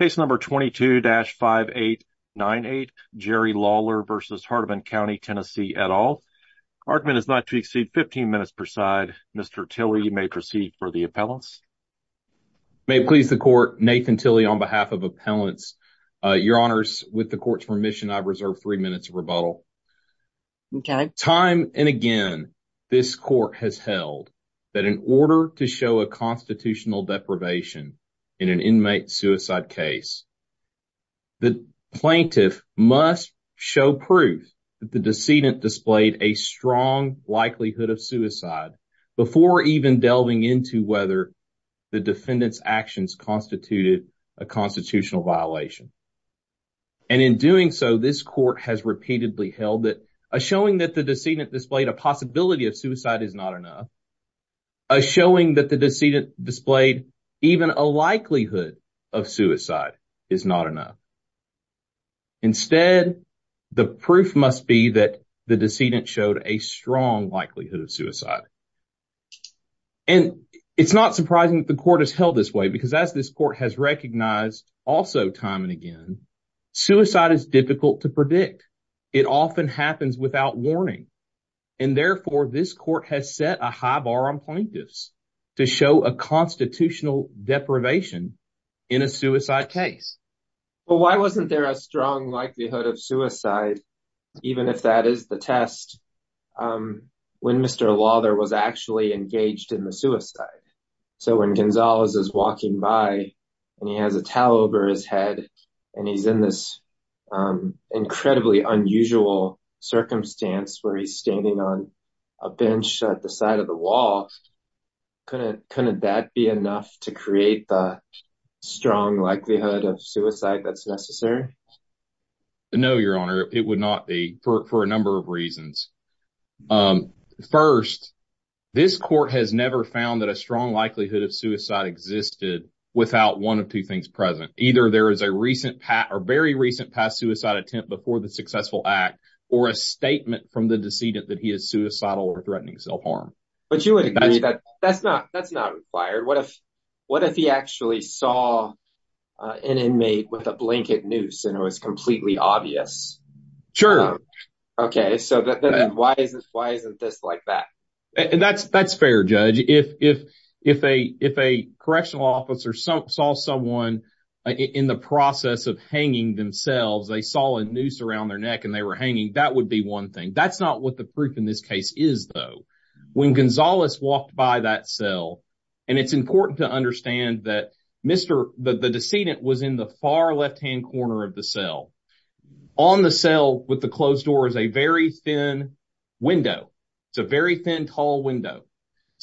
Case No. 22-5898 Jerry Lawler v. Hardeman County, TN et al. Argument is not to exceed 15 minutes per side. Mr. Tilley, you may proceed for the appellants. May it please the Court, Nathan Tilley on behalf of appellants. Your Honors, with the Court's permission, I reserve three minutes of rebuttal. Time and again, this Court has held that in order to show a constitutional deprivation in an inmate suicide case, the plaintiff must show proof that the decedent displayed a strong likelihood of suicide before even delving into whether the defendant's actions constituted a constitutional violation. And in doing so, this Court has repeatedly held that a showing that the decedent displayed a possibility of suicide is not enough. A showing that the decedent displayed even a likelihood of suicide is not enough. Instead, the proof must be that the decedent showed a strong likelihood of suicide. And it's not surprising that the Court has held this way because as this Court has recognized also time and again, suicide is difficult to predict. It often happens without warning. And therefore, this Court has set a high bar on plaintiffs to show a constitutional deprivation in a suicide case. Well, why wasn't there a strong likelihood of suicide, even if that is the test, when Mr. Lawther was actually engaged in the suicide? So when Gonzalez is walking by and he has a towel over his head and he's in this incredibly unusual circumstance where he's standing on a bench at the side of the wall, Couldn't that be enough to create the strong likelihood of suicide that's necessary? No, Your Honor, it would not be for a number of reasons. First, this Court has never found that a strong likelihood of suicide existed without one of two things present. Either there is a very recent past suicide attempt before the successful act or a statement from the decedent that he is suicidal or threatening self-harm. But you would agree that that's not required. What if he actually saw an inmate with a blanket noose and it was completely obvious? Sure. Okay, so why isn't this like that? That's fair, Judge. If a correctional officer saw someone in the process of hanging themselves, they saw a noose around their neck and they were hanging, that would be one thing. That's not what the proof in this case is, though. When Gonzalez walked by that cell, and it's important to understand that the decedent was in the far left-hand corner of the cell. On the cell with the closed door is a very thin window. It's a very thin, tall window.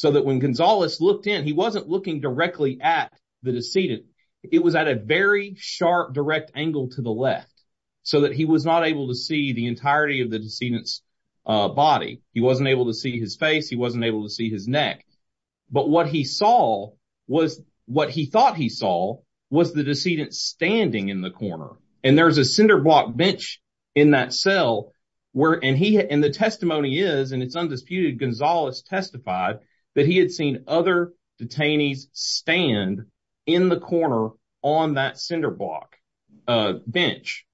When Gonzalez looked in, he wasn't looking directly at the decedent. It was at a very sharp, direct angle to the left so that he was not able to see the entirety of the decedent's body. He wasn't able to see his face. He wasn't able to see his neck. But what he thought he saw was the decedent standing in the corner. And there's a cinder block bench in that cell. And the testimony is, and it's undisputed, Gonzalez testified that he had seen other detainees stand in the corner on that cinder block bench.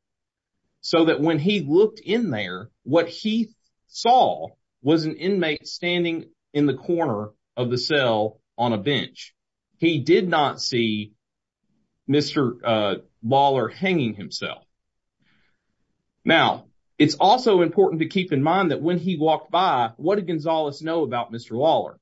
So that when he looked in there, what he saw was an inmate standing in the corner of the cell on a bench. He did not see Mr. Lawler hanging himself. Now, it's also important to keep in mind that when he walked by, what did Gonzalez know about Mr. Lawler?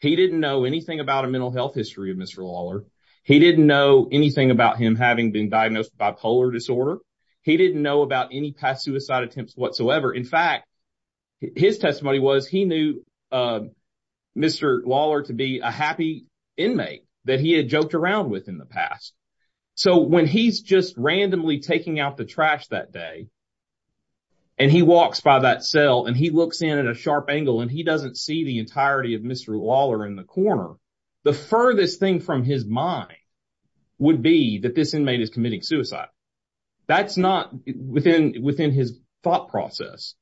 He didn't know anything about a mental health history of Mr. Lawler. He didn't know anything about him having been diagnosed with bipolar disorder. He didn't know about any past suicide attempts whatsoever. In fact, his testimony was he knew Mr. Lawler to be a happy inmate that he had joked around with in the past. So when he's just randomly taking out the trash that day and he walks by that cell and he looks in at a sharp angle and he doesn't see the entirety of Mr. Lawler in the corner, the furthest thing from his mind would be that this inmate is committing suicide. That's not within his thought process.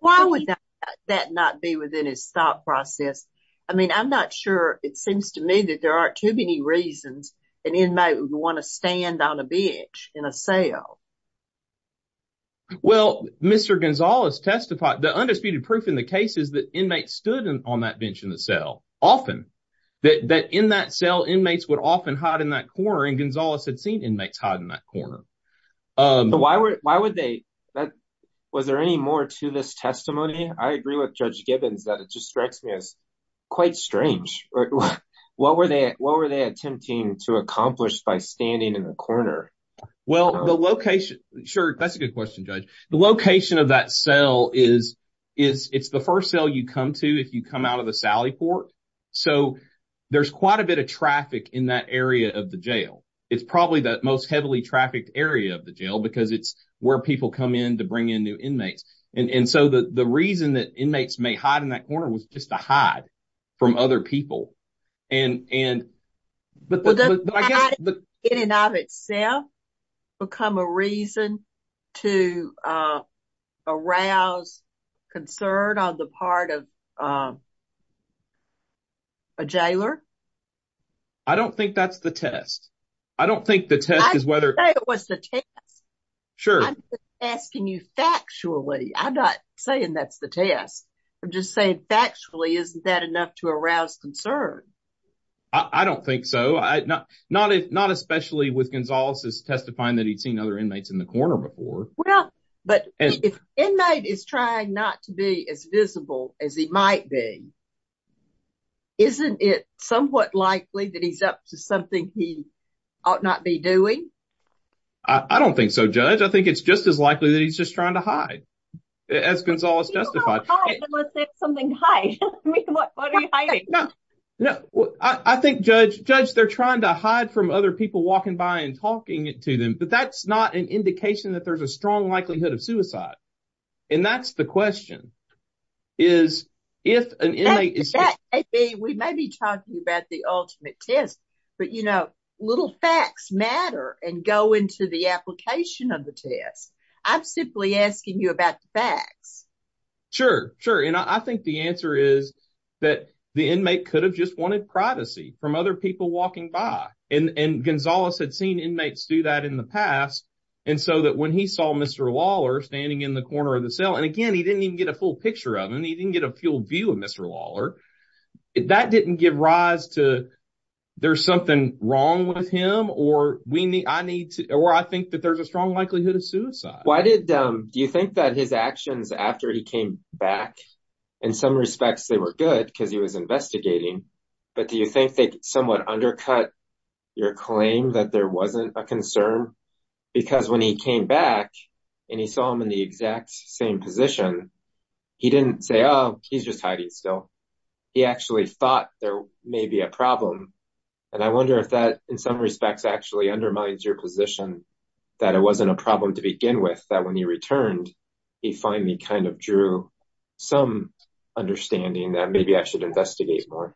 Why would that not be within his thought process? I mean, I'm not sure. It seems to me that there aren't too many reasons an inmate would want to stand on a bench in a cell. Well, Mr. Gonzalez testified, the undisputed proof in the case is that inmates stood on that bench in the cell often. That in that cell, inmates would often hide in that corner. And Gonzalez had seen inmates hide in that corner. Why would they? Was there any more to this testimony? I agree with Judge Gibbons that it just strikes me as quite strange. What were they what were they attempting to accomplish by standing in the corner? Well, the location. Sure. That's a good question, Judge. The location of that cell is is it's the first cell you come to if you come out of the Sally Port. So there's quite a bit of traffic in that area of the jail. It's probably the most heavily trafficked area of the jail because it's where people come in to bring in new inmates. And so the reason that inmates may hide in that corner was just to hide from other people. And and but in and of itself become a reason to arouse concern on the part of. A jailer. I don't think that's the test. I don't think the test is whether it was the test. Sure. I'm asking you factually. I'm not saying that's the test. I'm just saying factually, isn't that enough to arouse concern? I don't think so. I not not not especially with Gonzalez's testifying that he'd seen other inmates in the corner before. Well, but if an inmate is trying not to be as visible as he might be. Isn't it somewhat likely that he's up to something he ought not be doing? I don't think so, Judge. I think it's just as likely that he's just trying to hide. As Gonzalez justified something. Hi. What are you hiding? No, I think, Judge. Judge, they're trying to hide from other people walking by and talking to them. But that's not an indication that there's a strong likelihood of suicide. And that's the question is if an inmate is that we may be talking about the ultimate test. But, you know, little facts matter and go into the application of the test. I'm simply asking you about the facts. Sure. Sure. And I think the answer is that the inmate could have just wanted privacy from other people walking by. And Gonzalez had seen inmates do that in the past. And so that when he saw Mr. Lawler standing in the corner of the cell and again, he didn't even get a full picture of him. He didn't get a full view of Mr. Lawler. That didn't give rise to there's something wrong with him. Or we need I need to or I think that there's a strong likelihood of suicide. Why did you think that his actions after he came back? In some respects, they were good because he was investigating. But do you think they somewhat undercut your claim that there wasn't a concern? Because when he came back and he saw him in the exact same position, he didn't say, oh, he's just hiding. So he actually thought there may be a problem. And I wonder if that in some respects actually undermines your position that it wasn't a problem to begin with, that when he returned, he finally kind of drew some understanding that maybe I should investigate more.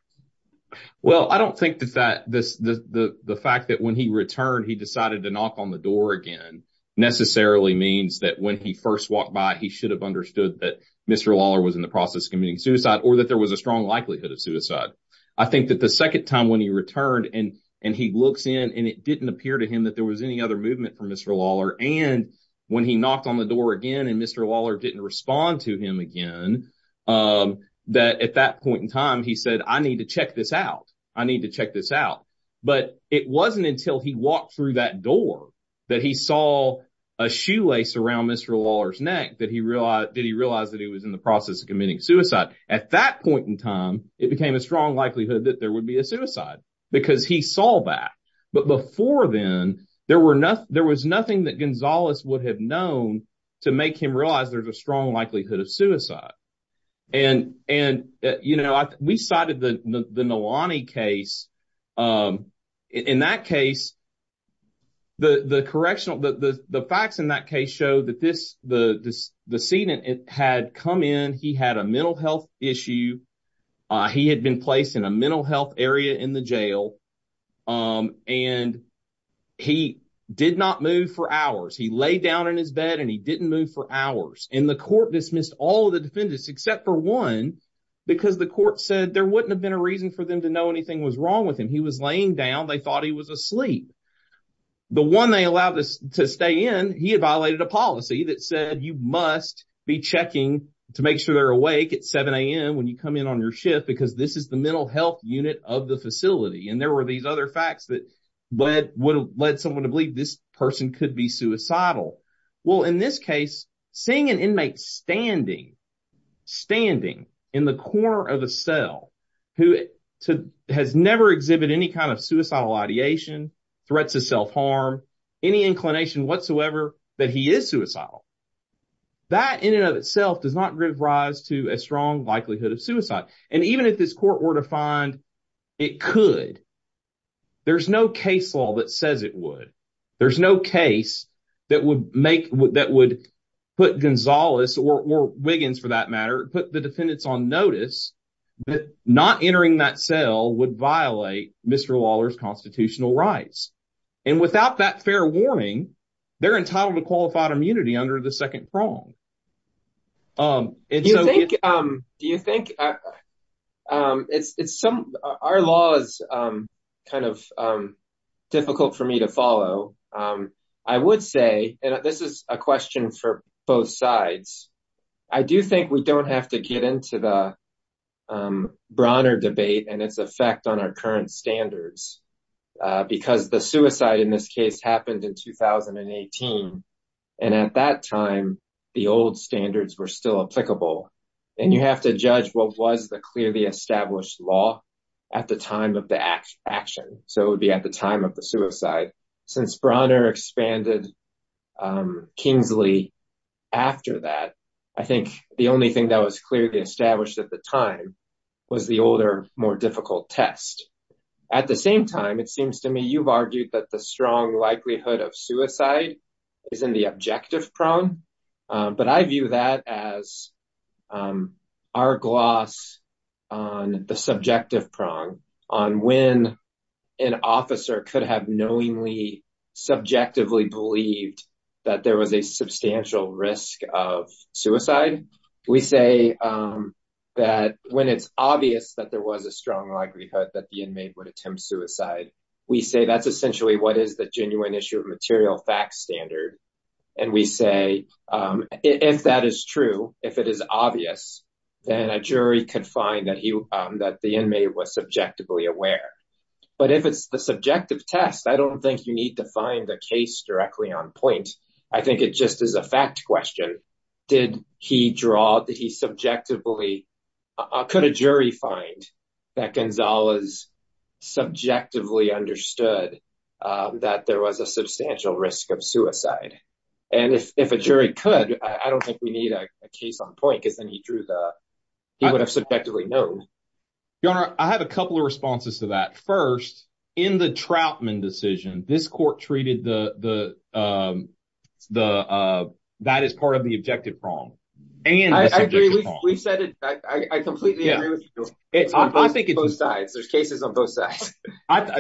Well, I don't think that that this the fact that when he returned, he decided to knock on the door again necessarily means that when he first walked by, he should have understood that Mr. Lawler was in the process of committing suicide or that there was a strong likelihood of suicide. I think that the second time when he returned and and he looks in and it didn't appear to him that there was any other movement from Mr. Lawler. And when he knocked on the door again and Mr. Lawler didn't respond to him again, that at that point in time, he said, I need to check this out. I need to check this out. But it wasn't until he walked through that door that he saw a shoelace around Mr. Lawler's neck that he realized that he realized that he was in the process of committing suicide. At that point in time, it became a strong likelihood that there would be a suicide because he saw that. But before then, there were no there was nothing that Gonzalez would have known to make him realize there's a strong likelihood of suicide. And and, you know, we cited the Nalani case in that case. The correctional the facts in that case show that this the this the scene had come in. He had a mental health issue. He had been placed in a mental health area in the jail and he did not move for hours. He laid down in his bed and he didn't move for hours in the court, dismissed all the defendants, except for one, because the court said there wouldn't have been a reason for them to know anything was wrong with him. He was laying down. They thought he was asleep. The one they allowed to stay in. And he had violated a policy that said you must be checking to make sure they're awake at 7 a.m. when you come in on your shift, because this is the mental health unit of the facility. And there were these other facts that led would have led someone to believe this person could be suicidal. Well, in this case, seeing an inmate standing, standing in the corner of a cell who has never exhibit any kind of suicidal ideation, threats of self-harm, any inclination whatsoever that he is suicidal. That in and of itself does not give rise to a strong likelihood of suicide. And even if this court were to find it could. There's no case law that says it would. There's no case that would make that would put Gonzalez or Wiggins, for that matter, put the defendants on notice. Not entering that cell would violate Mr. Lawler's constitutional rights. And without that fair warning, they're entitled to qualified immunity under the second prong. Do you think it's some our laws kind of difficult for me to follow? I would say this is a question for both sides. I do think we don't have to get into the Bronner debate and its effect on our current standards because the suicide in this case happened in 2018. And at that time, the old standards were still applicable. And you have to judge what was the clearly established law at the time of the action. So it would be at the time of the suicide. Since Bronner expanded Kingsley after that. I think the only thing that was clearly established at the time was the older, more difficult test. At the same time, it seems to me you've argued that the strong likelihood of suicide is in the objective prong. But I view that as our gloss on the subjective prong on when an officer could have knowingly, subjectively believed that there was a substantial risk of suicide. We say that when it's obvious that there was a strong likelihood that the inmate would attempt suicide. We say that's essentially what is the genuine issue of material facts standard. And we say if that is true, if it is obvious, then a jury could find that he that the inmate was subjectively aware. But if it's the subjective test, I don't think you need to find a case directly on point. I think it just is a fact question. Did he draw that he subjectively could a jury find that Gonzalez subjectively understood that there was a substantial risk of suicide? And if a jury could, I don't think we need a case on point because then he drew the he would have subjectively known. Your honor, I have a couple of responses to that 1st, in the Troutman decision, this court treated the the the that is part of the objective prong. And I agree, we said it. I completely agree with you. I think it's both sides. There's cases on both sides.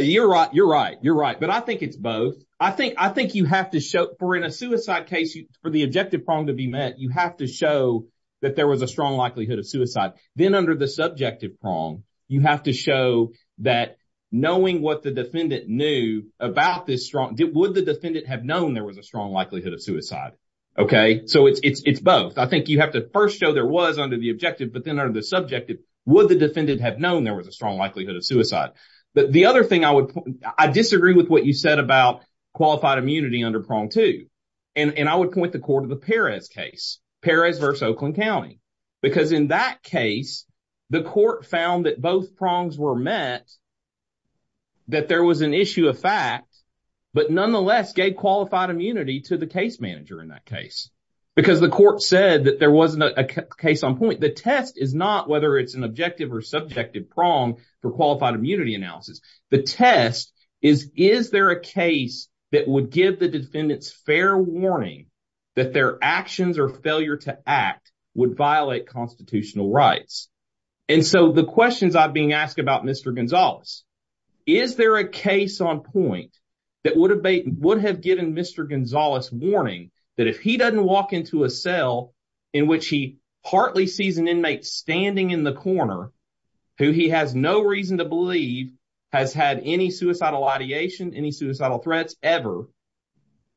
You're right. You're right. You're right. But I think it's both. I think I think you have to show for in a suicide case for the objective prong to be met. You have to show that there was a strong likelihood of suicide. Then under the subjective prong, you have to show that knowing what the defendant knew about this strong. Would the defendant have known there was a strong likelihood of suicide? OK, so it's both. I think you have to first show there was under the objective. But then under the subjective, would the defendant have known there was a strong likelihood of suicide? But the other thing I would I disagree with what you said about qualified immunity under prong, too. And I would point the court of the Paris case, Paris versus Oakland County, because in that case, the court found that both prongs were met. That there was an issue of fact, but nonetheless gave qualified immunity to the case manager in that case because the court said that there wasn't a case on point. The test is not whether it's an objective or subjective prong for qualified immunity analysis. The test is, is there a case that would give the defendants fair warning that their actions or failure to act would violate constitutional rights? And so the questions I've been asked about Mr. Gonzalez, is there a case on point that would have been would have given Mr. Gonzalez warning that if he doesn't walk into a cell in which he partly sees an inmate standing in the corner? Who he has no reason to believe has had any suicidal ideation, any suicidal threats ever.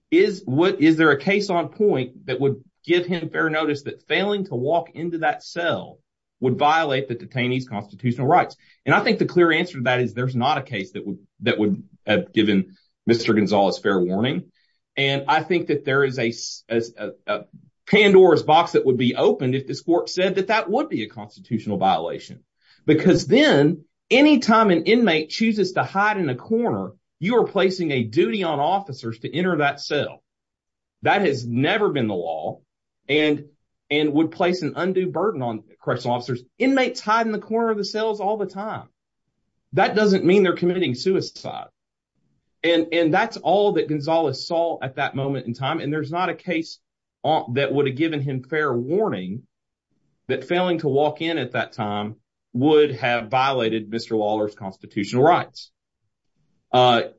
Is what is there a case on point that would give him fair notice that failing to walk into that cell would violate the detainees constitutional rights? And I think the clear answer to that is there's not a case that would that would have given Mr. Gonzalez fair warning. And I think that there is a Pandora's box that would be opened if this court said that that would be a constitutional violation. Because then anytime an inmate chooses to hide in a corner, you are placing a duty on officers to enter that cell. That has never been the law and and would place an undue burden on correctional officers. Inmates hide in the corner of the cells all the time. That doesn't mean they're committing suicide. And that's all that Gonzalez saw at that moment in time. And there's not a case that would have given him fair warning that failing to walk in at that time would have violated Mr. Lawler's constitutional rights. And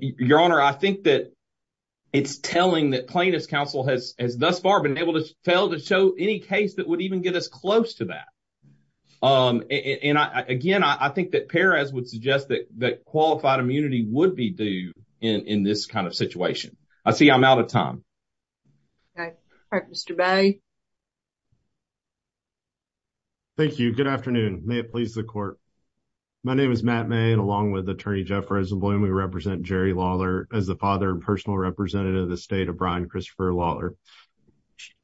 your honor, I think that it's telling that plaintiff's counsel has thus far been able to fail to show any case that would even get us close to that. And again, I think that Perez would suggest that that qualified immunity would be due in this kind of situation. I see I'm out of time. Mr. Bay. Thank you. Good afternoon. May it please the court. My name is Matt May, and along with Attorney Jeff Rosenblum, we represent Jerry Lawler as the father and personal representative of the state of Brian Christopher Lawler.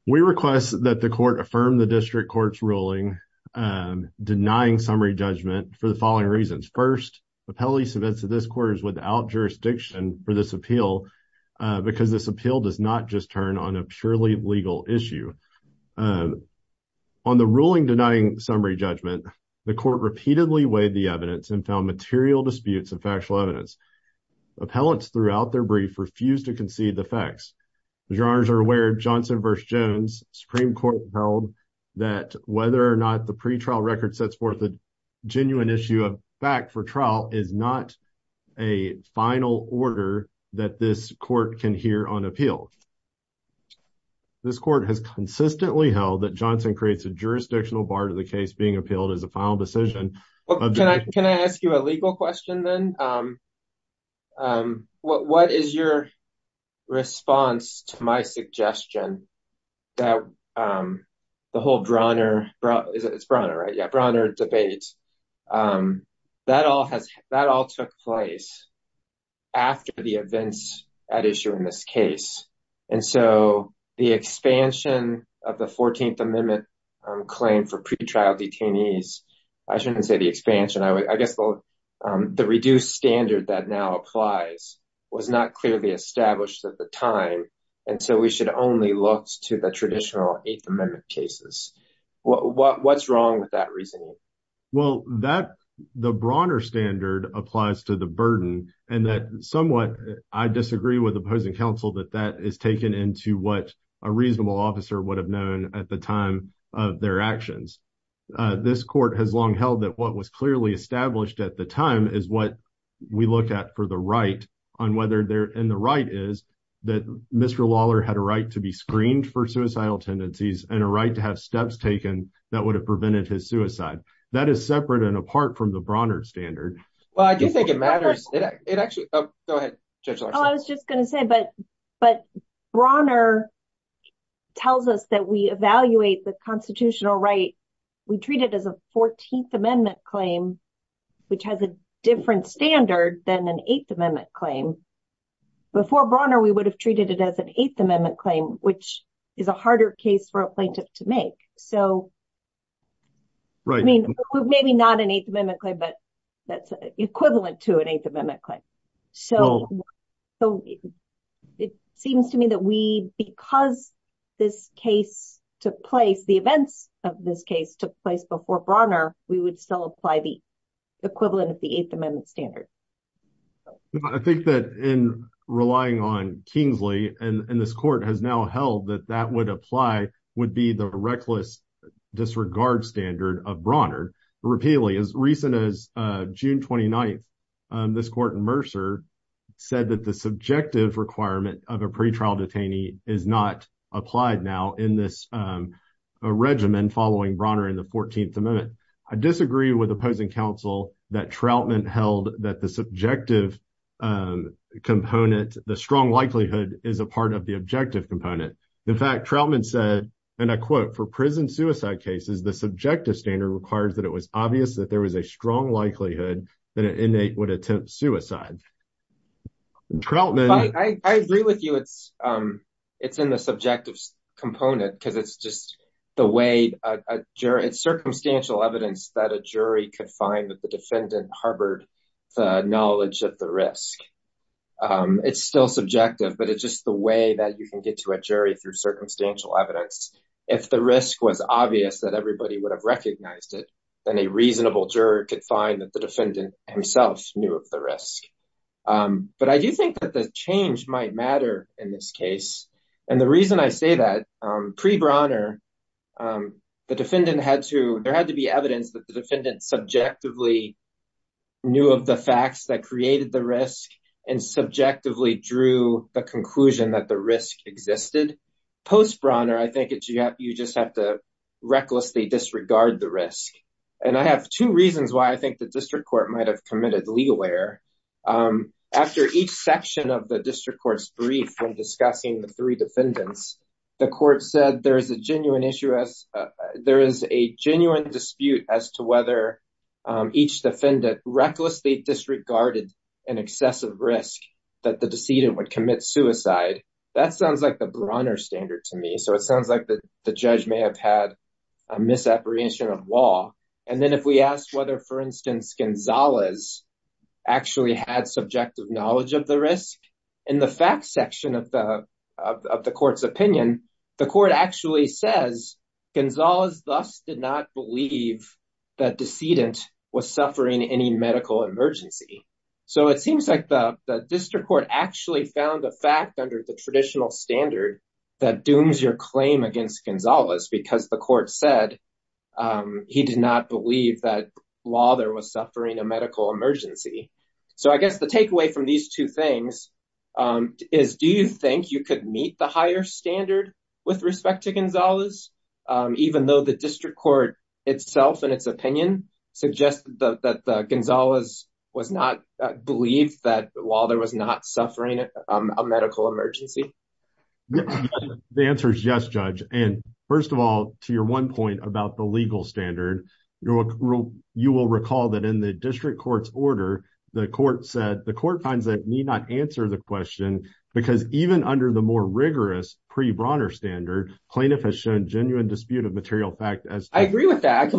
We request that the court affirm the district court's ruling denying summary judgment for the following reasons. First, the police events of this quarters without jurisdiction for this appeal, because this appeal does not just turn on a purely legal issue. On the ruling denying summary judgment, the court repeatedly weighed the evidence and found material disputes of factual evidence. Appellants throughout their brief refused to concede the facts. Your honors are aware Johnson versus Jones Supreme Court held that whether or not the pretrial record sets forth the genuine issue of fact for trial is not a final order that this court can hear on appeal. This court has consistently held that Johnson creates a jurisdictional bar to the case being appealed as a final decision. Can I ask you a legal question then? What is your response to my suggestion that the whole Bronner debate, that all took place after the events at issue in this case? And so the expansion of the 14th Amendment claim for pretrial detainees, I shouldn't say the expansion, I guess the reduced standard that now applies was not clearly established at the time. And so we should only look to the traditional 8th Amendment cases. What's wrong with that reasoning? Well, that the Bronner standard applies to the burden and that somewhat I disagree with opposing counsel that that is taken into what a reasonable officer would have known at the time of their actions. This court has long held that what was clearly established at the time is what we look at for the right on whether they're in the right is that Mr. Lawler had a right to be screened for suicidal tendencies and a right to have steps taken that would have prevented his suicide. That is separate and apart from the Bronner standard. Well, I do think it matters. I was just going to say, but but Bronner tells us that we evaluate the constitutional right. We treat it as a 14th Amendment claim, which has a different standard than an 8th Amendment claim. Before Bronner, we would have treated it as an 8th Amendment claim, which is a harder case for a plaintiff to make. Right. I mean, maybe not an 8th Amendment claim, but that's equivalent to an 8th Amendment claim. So it seems to me that we because this case took place, the events of this case took place before Bronner, we would still apply the equivalent of the 8th Amendment standard. I think that in relying on Kingsley and this court has now held that that would apply would be the reckless disregard standard of Bronner repeatedly. As recent as June 29th, this court in Mercer said that the subjective requirement of a pretrial detainee is not applied now in this regimen following Bronner in the 14th Amendment. I disagree with opposing counsel that Troutman held that the subjective component, the strong likelihood is a part of the objective component. In fact, Troutman said, and I quote, for prison suicide cases, the subjective standard requires that it was obvious that there was a strong likelihood that an inmate would attempt suicide. Troutman. I agree with you. It's it's in the subjective component because it's just the way it's circumstantial evidence that a jury could find that the defendant harbored the knowledge of the risk. It's still subjective, but it's just the way that you can get to a jury through circumstantial evidence. If the risk was obvious that everybody would have recognized it, then a reasonable juror could find that the defendant himself knew of the risk. But I do think that the change might matter in this case. And the reason I say that pre Bronner, the defendant had to there had to be evidence that the defendant subjectively knew of the facts that created the risk and subjectively drew the conclusion that the risk existed. Post Bronner, I think you just have to recklessly disregard the risk. And I have two reasons why I think the district court might have committed legal error after each section of the district court's brief when discussing the three defendants. The court said there is a genuine issue as there is a genuine dispute as to whether each defendant recklessly disregarded an excessive risk that the decedent would commit suicide. That sounds like the Bronner standard to me. So it sounds like the judge may have had a misapprehension of law. And then if we ask whether, for instance, Gonzalez actually had subjective knowledge of the risk in the fact section of the of the court's opinion, the court actually says Gonzalez thus did not believe that decedent was suffering any medical emergency. So it seems like the district court actually found a fact under the traditional standard that dooms your claim against Gonzalez because the court said he did not believe that while there was suffering a medical emergency. So I guess the takeaway from these two things is, do you think you could meet the higher standard with respect to Gonzalez, even though the district court itself and its opinion suggests that Gonzalez was not believed that while there was not suffering a medical emergency? The answer is yes, judge. And first of all, to your one point about the legal standard, you will recall that in the district court's order, the court said the court finds that need not answer the question because even under the more rigorous pre Bronner standard, plaintiff has shown genuine dispute of material fact as I agree with that.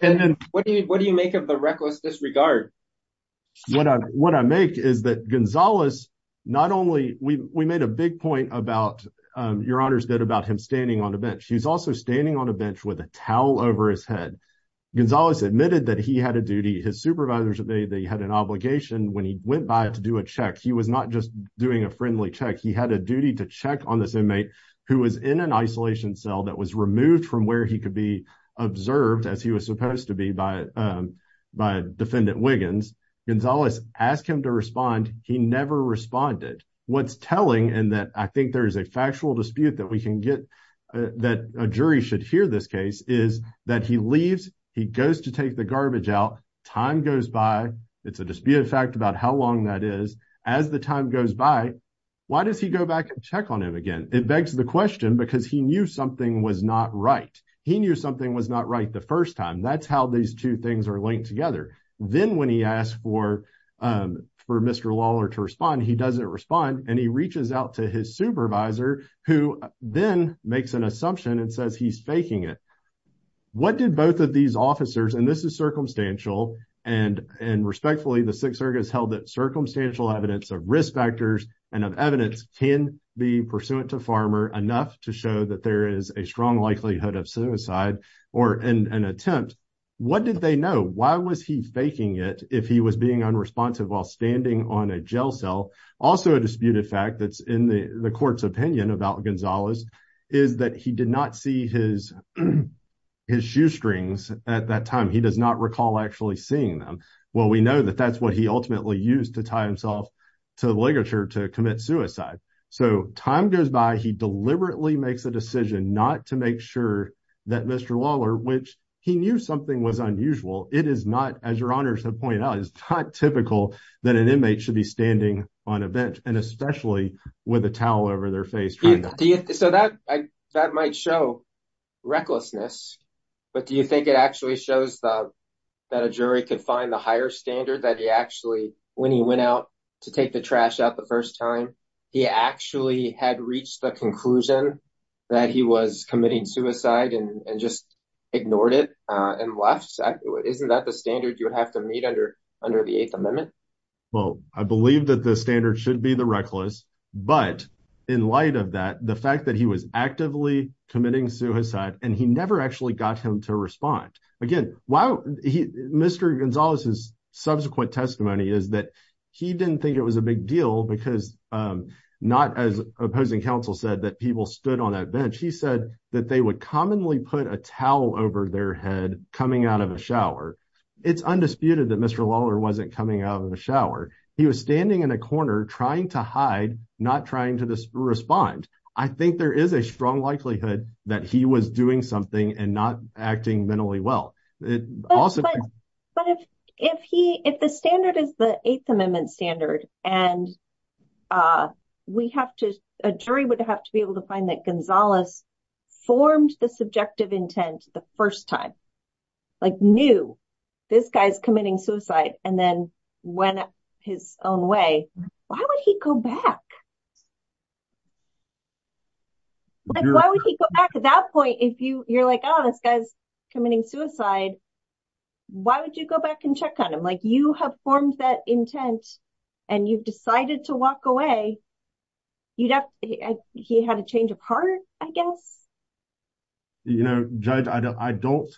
And what do you make of the reckless disregard? What I make is that Gonzalez, not only we made a big point about your honors that about him standing on a bench, he's also standing on a bench with a towel over his head. Gonzalez admitted that he had a duty. His supervisors, they had an obligation when he went by to do a check. He was not just doing a friendly check. He had a duty to check on this inmate who was in an isolation cell that was removed from where he could be observed as he was supposed to be by by defendant Wiggins. Gonzalez asked him to respond. He never responded. What's telling and that I think there is a factual dispute that we can get that a jury should hear this case is that he leaves. He goes to take the garbage out. Time goes by. It's a disputed fact about how long that is as the time goes by. Why does he go back and check on him again? It begs the question because he knew something was not right. He knew something was not right the 1st time. That's how these 2 things are linked together. Then when he asked for for Mr. Lawler to respond, he doesn't respond and he reaches out to his supervisor who then makes an assumption and says he's faking it. What did both of these officers and this is circumstantial and and respectfully, the 6th Circus held that circumstantial evidence of risk factors and of evidence can be pursuant to farmer enough to show that there is a strong likelihood of suicide or an attempt. What did they know? Why was he faking it? If he was being unresponsive while standing on a jail cell? Also, a disputed fact that's in the court's opinion about Gonzalez is that he did not see his his shoestrings at that time. He does not recall actually seeing them. Well, we know that that's what he ultimately used to tie himself to the literature to commit suicide. So time goes by. He deliberately makes a decision not to make sure that Mr. Lawler, which he knew something was unusual. It is not, as your honors have pointed out, is not typical that an inmate should be standing on a bench and especially with a towel over their face. So that that might show recklessness, but do you think it actually shows that a jury could find the higher standard that he actually when he went out to take the trash out the first time he actually had reached the conclusion that he was committing suicide and just ignored it and left? Exactly. Isn't that the standard you would have to meet under under the Eighth Amendment? Well, I believe that the standard should be the reckless. But in light of that, the fact that he was actively committing suicide and he never actually got him to respond again. Mr. Gonzalez, his subsequent testimony is that he didn't think it was a big deal because not as opposing counsel said that people stood on that bench. He said that they would commonly put a towel over their head coming out of a shower. It's undisputed that Mr. Lawler wasn't coming out of the shower. He was standing in a corner trying to hide, not trying to respond. I think there is a strong likelihood that he was doing something and not acting mentally well. But if he if the standard is the Eighth Amendment standard and we have to a jury would have to be able to find that Gonzalez formed the subjective intent the first time, like knew this guy's committing suicide and then went his own way. Why would he go back? Why would he go back at that point if you you're like, oh, this guy's committing suicide? Why would you go back and check on him like you have formed that intent and you've decided to walk away? He had a change of heart, I guess. You know, judge, I don't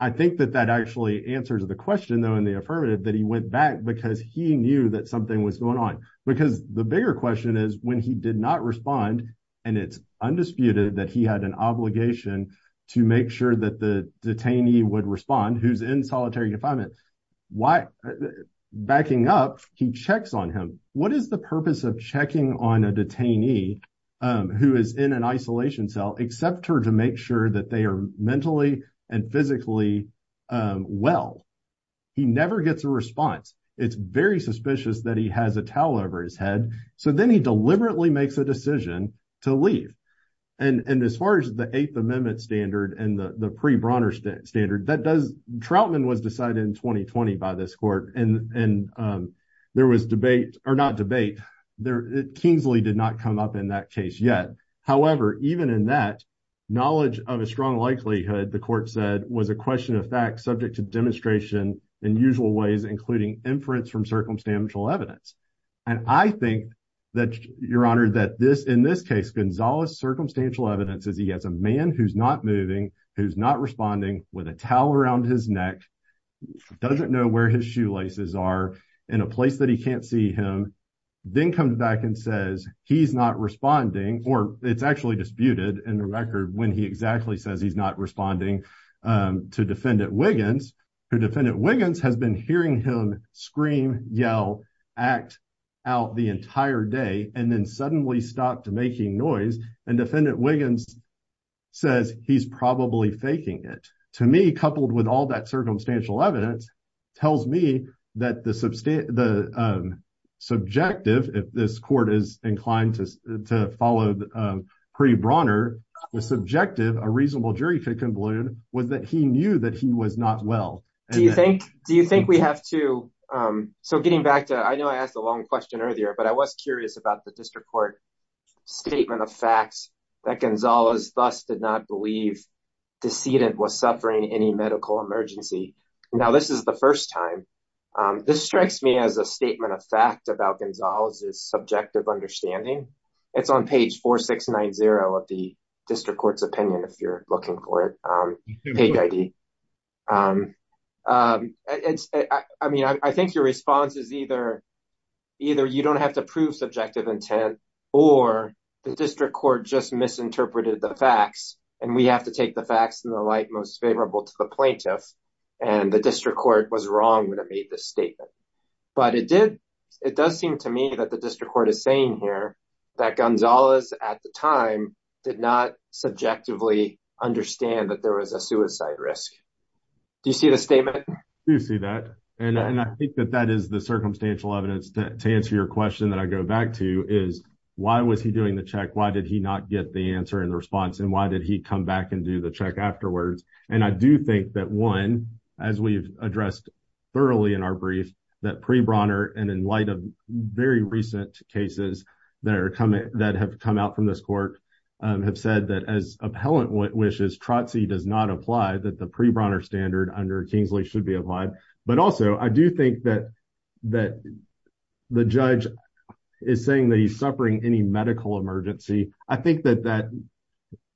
I think that that actually answers the question, though, in the affirmative that he went back because he knew that something was going on because the bigger question is when he did not respond and it's undisputed that he had an obligation to make sure that the detainee would respond. Who's in solitary confinement? Why backing up? He checks on him. What is the purpose of checking on a detainee who is in an isolation cell except to make sure that they are mentally and physically well? He never gets a response. It's very suspicious that he has a towel over his head. So then he deliberately makes a decision to leave. And as far as the 8th Amendment standard and the pre Bronner standard that does, Troutman was decided in 2020 by this court and there was debate or not debate there. Kingsley did not come up in that case yet. However, even in that knowledge of a strong likelihood, the court said, was a question of fact subject to demonstration in usual ways, including inference from circumstantial evidence. And I think that your honor, that this in this case, Gonzalez circumstantial evidence is he has a man who's not moving, who's not responding with a towel around his neck, doesn't know where his shoelaces are in a place that he can't see him. Then comes back and says he's not responding, or it's actually disputed in the record when he exactly says he's not responding to defendant Wiggins, who defendant Wiggins has been hearing him scream, yell, act out the entire day. And then suddenly stopped making noise and defendant Wiggins says he's probably faking it to me, coupled with all that circumstantial evidence tells me that the substantive the subjective if this court is inclined to follow the pre Bronner was subjective. A reasonable jury conclusion was that he knew that he was not well. Do you think, do you think we have to. So getting back to I know I asked a long question earlier, but I was curious about the district court statement of facts that Gonzalez bus did not believe decedent was suffering any medical emergency. Now, this is the first time this strikes me as a statement of fact about Gonzalez is subjective understanding. It's on page 4690 of the district court's opinion. If you're looking for it. It's, I mean, I think your response is either. Either you don't have to prove subjective intent, or the district court just misinterpreted the facts, and we have to take the facts in the light most favorable to the plaintiff and the district court was wrong when it made this statement. But it did. It does seem to me that the district court is saying here that Gonzalez, at the time, did not subjectively understand that there was a suicide risk. Do you see the statement you see that and I think that that is the circumstantial evidence to answer your question that I go back to is, why was he doing the check? Why did he not get the answer and the response? And why did he come back and do the check afterwards? And I do think that 1, as we've addressed thoroughly in our brief that pre Bronner and in light of very recent cases that are coming that have come out from this court have said that as appellant wishes trotsy does not apply that the pre Bronner standard under Kingsley should be applied. But also, I do think that that the judge is saying that he's suffering any medical emergency. I think that that,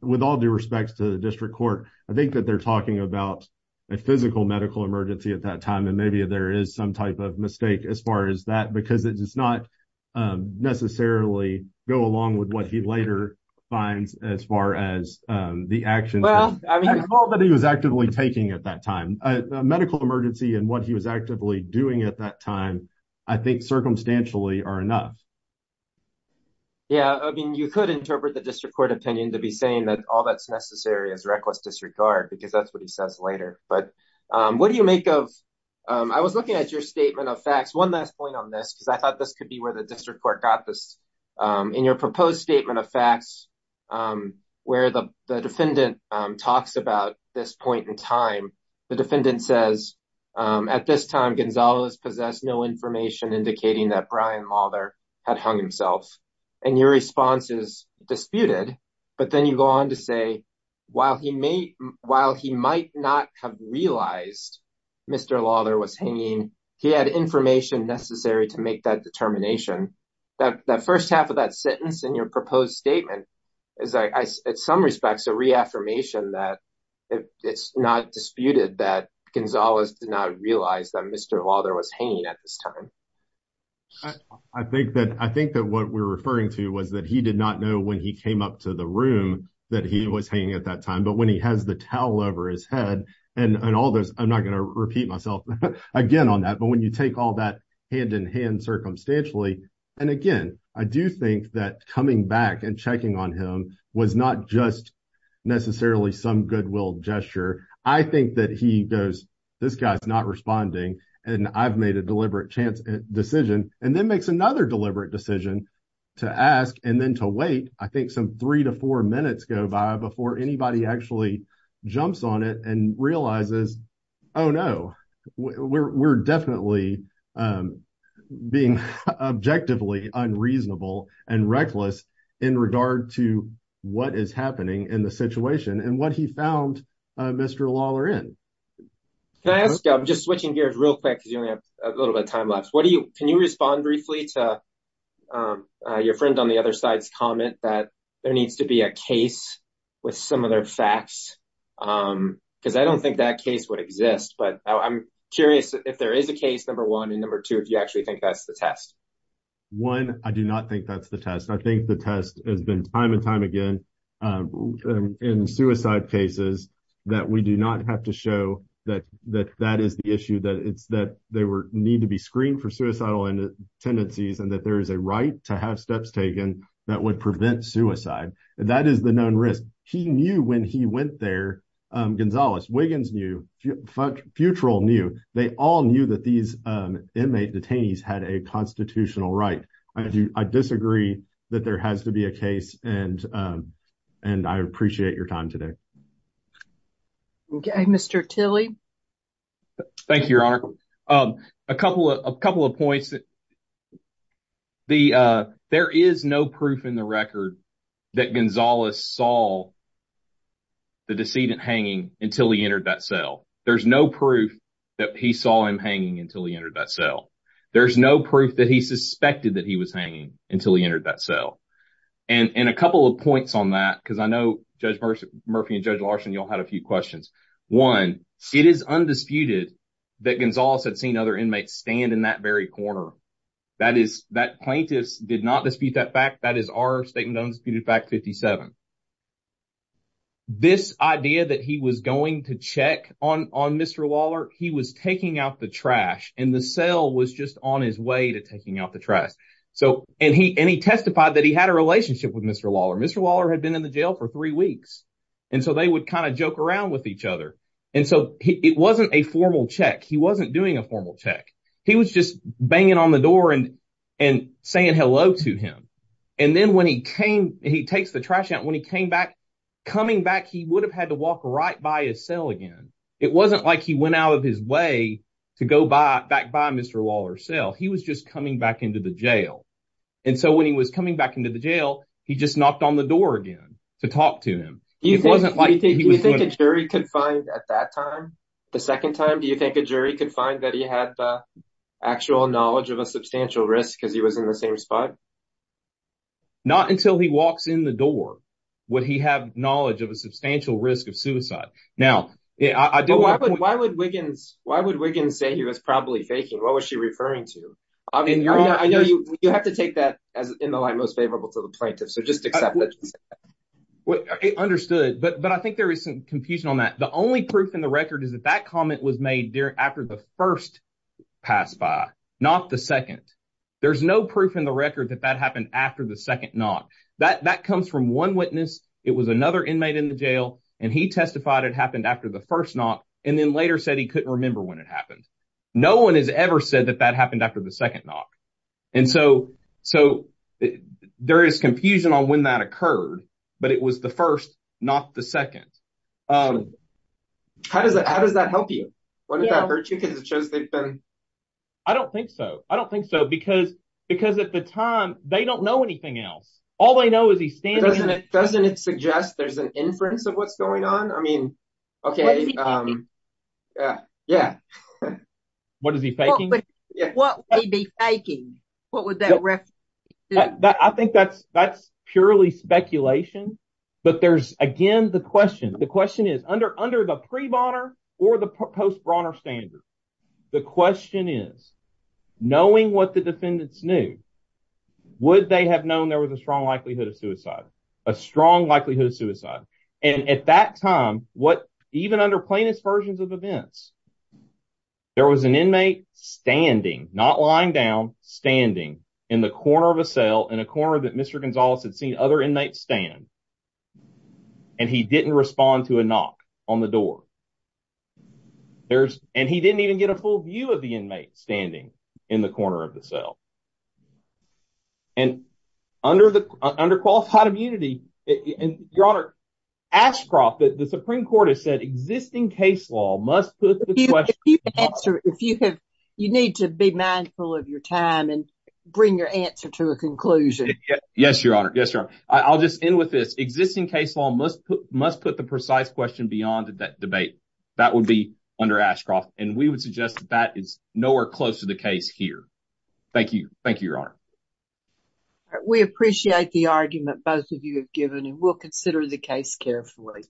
with all due respects to the district court, I think that they're talking about a physical medical emergency at that time. And maybe there is some type of mistake as far as that, because it does not necessarily go along with what he later finds as far as the action. Well, I mean, all that he was actively taking at that time medical emergency and what he was actively doing at that time. I think circumstantially are enough. Yeah, I mean, you could interpret the district court opinion to be saying that all that's necessary is reckless disregard because that's what he says later. But what do you make of? I was looking at your statement of facts. 1 last point on this, because I thought this could be where the district court got this in your proposed statement of facts where the defendant talks about this point in time. The defendant says at this time, Gonzalez possessed no information indicating that Brian Lawler had hung himself and your response is disputed. But then you go on to say, while he may while he might not have realized Mr. Lawler was hanging, he had information necessary to make that determination. The first half of that sentence in your proposed statement is, in some respects, a reaffirmation that it's not disputed that Gonzalez did not realize that Mr. Lawler was hanging at this time. I think that I think that what we're referring to was that he did not know when he came up to the room that he was hanging at that time. But when he has the towel over his head and all this, I'm not going to repeat myself again on that. But when you take all that hand in hand, circumstantially and again, I do think that coming back and checking on him was not just necessarily some goodwill gesture. I think that he goes, this guy's not responding and I've made a deliberate decision and then makes another deliberate decision to ask and then to wait. I think some three to four minutes go by before anybody actually jumps on it and realizes, oh, no, we're definitely being objectively unreasonable and reckless in regard to what is happening in the situation. And what he found Mr. Lawler in. Can I ask, I'm just switching gears real quick because you only have a little bit of time left. Can you respond briefly to your friend on the other side's comment that there needs to be a case with some of their facts? Because I don't think that case would exist, but I'm curious if there is a case, number one. And number two, if you actually think that's the test. One, I do not think that's the test. I think the test has been time and time again in suicide cases that we do not have to show that that is the issue, that it's that they need to be screened for suicidal tendencies and that there is a right to have steps taken that would prevent suicide. That is the known risk. He knew when he went there. Gonzales, Wiggins knew, Futrell knew. They all knew that these inmate detainees had a constitutional right. I disagree that there has to be a case. And and I appreciate your time today. Mr. Tilley. Thank you, Your Honor. A couple of a couple of points. The there is no proof in the record that Gonzales saw. The decedent hanging until he entered that cell. There's no proof that he saw him hanging until he entered that cell. There's no proof that he suspected that he was hanging until he entered that cell. And in a couple of points on that, because I know Judge Murphy and Judge Larson, you'll have a few questions. One, it is undisputed that Gonzales had seen other inmates stand in that very corner. That is that plaintiffs did not dispute that fact. That is our statement. This idea that he was going to check on on Mr. Waller, he was taking out the trash and the cell was just on his way to taking out the trash. So and he and he testified that he had a relationship with Mr. Waller. Mr. Waller had been in the jail for three weeks. And so they would kind of joke around with each other. And so it wasn't a formal check. He wasn't doing a formal check. He was just banging on the door and and saying hello to him. And then when he came, he takes the trash out. When he came back, coming back, he would have had to walk right by his cell again. It wasn't like he went out of his way to go back by Mr. Waller's cell. He was just coming back into the jail. And so when he was coming back into the jail, he just knocked on the door again to talk to him. It wasn't like he was doing a jury could find at that time. The second time, do you think a jury could find that he had the actual knowledge of a substantial risk because he was in the same spot? Not until he walks in the door. Would he have knowledge of a substantial risk of suicide? Now, yeah, I do. Why would Wiggins why would Wiggins say he was probably faking? What was she referring to? I mean, I know you have to take that as in the line most favorable to the plaintiff. So just accept it. Well, I understood. But but I think there is some confusion on that. The only proof in the record is that that comment was made there after the first passed by, not the second. There's no proof in the record that that happened after the second knock that that comes from one witness. It was another inmate in the jail and he testified. It happened after the first knock and then later said he couldn't remember when it happened. No one has ever said that that happened after the second knock. And so so there is confusion on when that occurred. But it was the first, not the second. How does that how does that help you? I don't think so. I don't think so. Because because at the time they don't know anything else. All they know is he's standing. Doesn't it suggest there's an inference of what's going on? I mean, OK. Yeah. Yeah. What is he thinking? Yeah. What I think that's that's purely speculation. But there's again the question. The question is under under the pre Bonner or the post Bronner standard. The question is, knowing what the defendants knew, would they have known there was a strong likelihood of suicide? A strong likelihood of suicide. And at that time, what even under plaintiff's versions of events? There was an inmate standing, not lying down, standing in the corner of a cell in a corner that Mr. And he didn't respond to a knock on the door. There's and he didn't even get a full view of the inmate standing in the corner of the cell. And under the under qualified immunity. And your honor, Ashcroft, the Supreme Court has said existing case law must put the answer. If you have you need to be mindful of your time and bring your answer to a conclusion. Yes, your honor. Yes, sir. I'll just end with this existing case law must must put the precise question beyond that debate. That would be under Ashcroft. And we would suggest that is nowhere close to the case here. Thank you. Thank you, your honor. We appreciate the argument both of you have given and we'll consider the case carefully.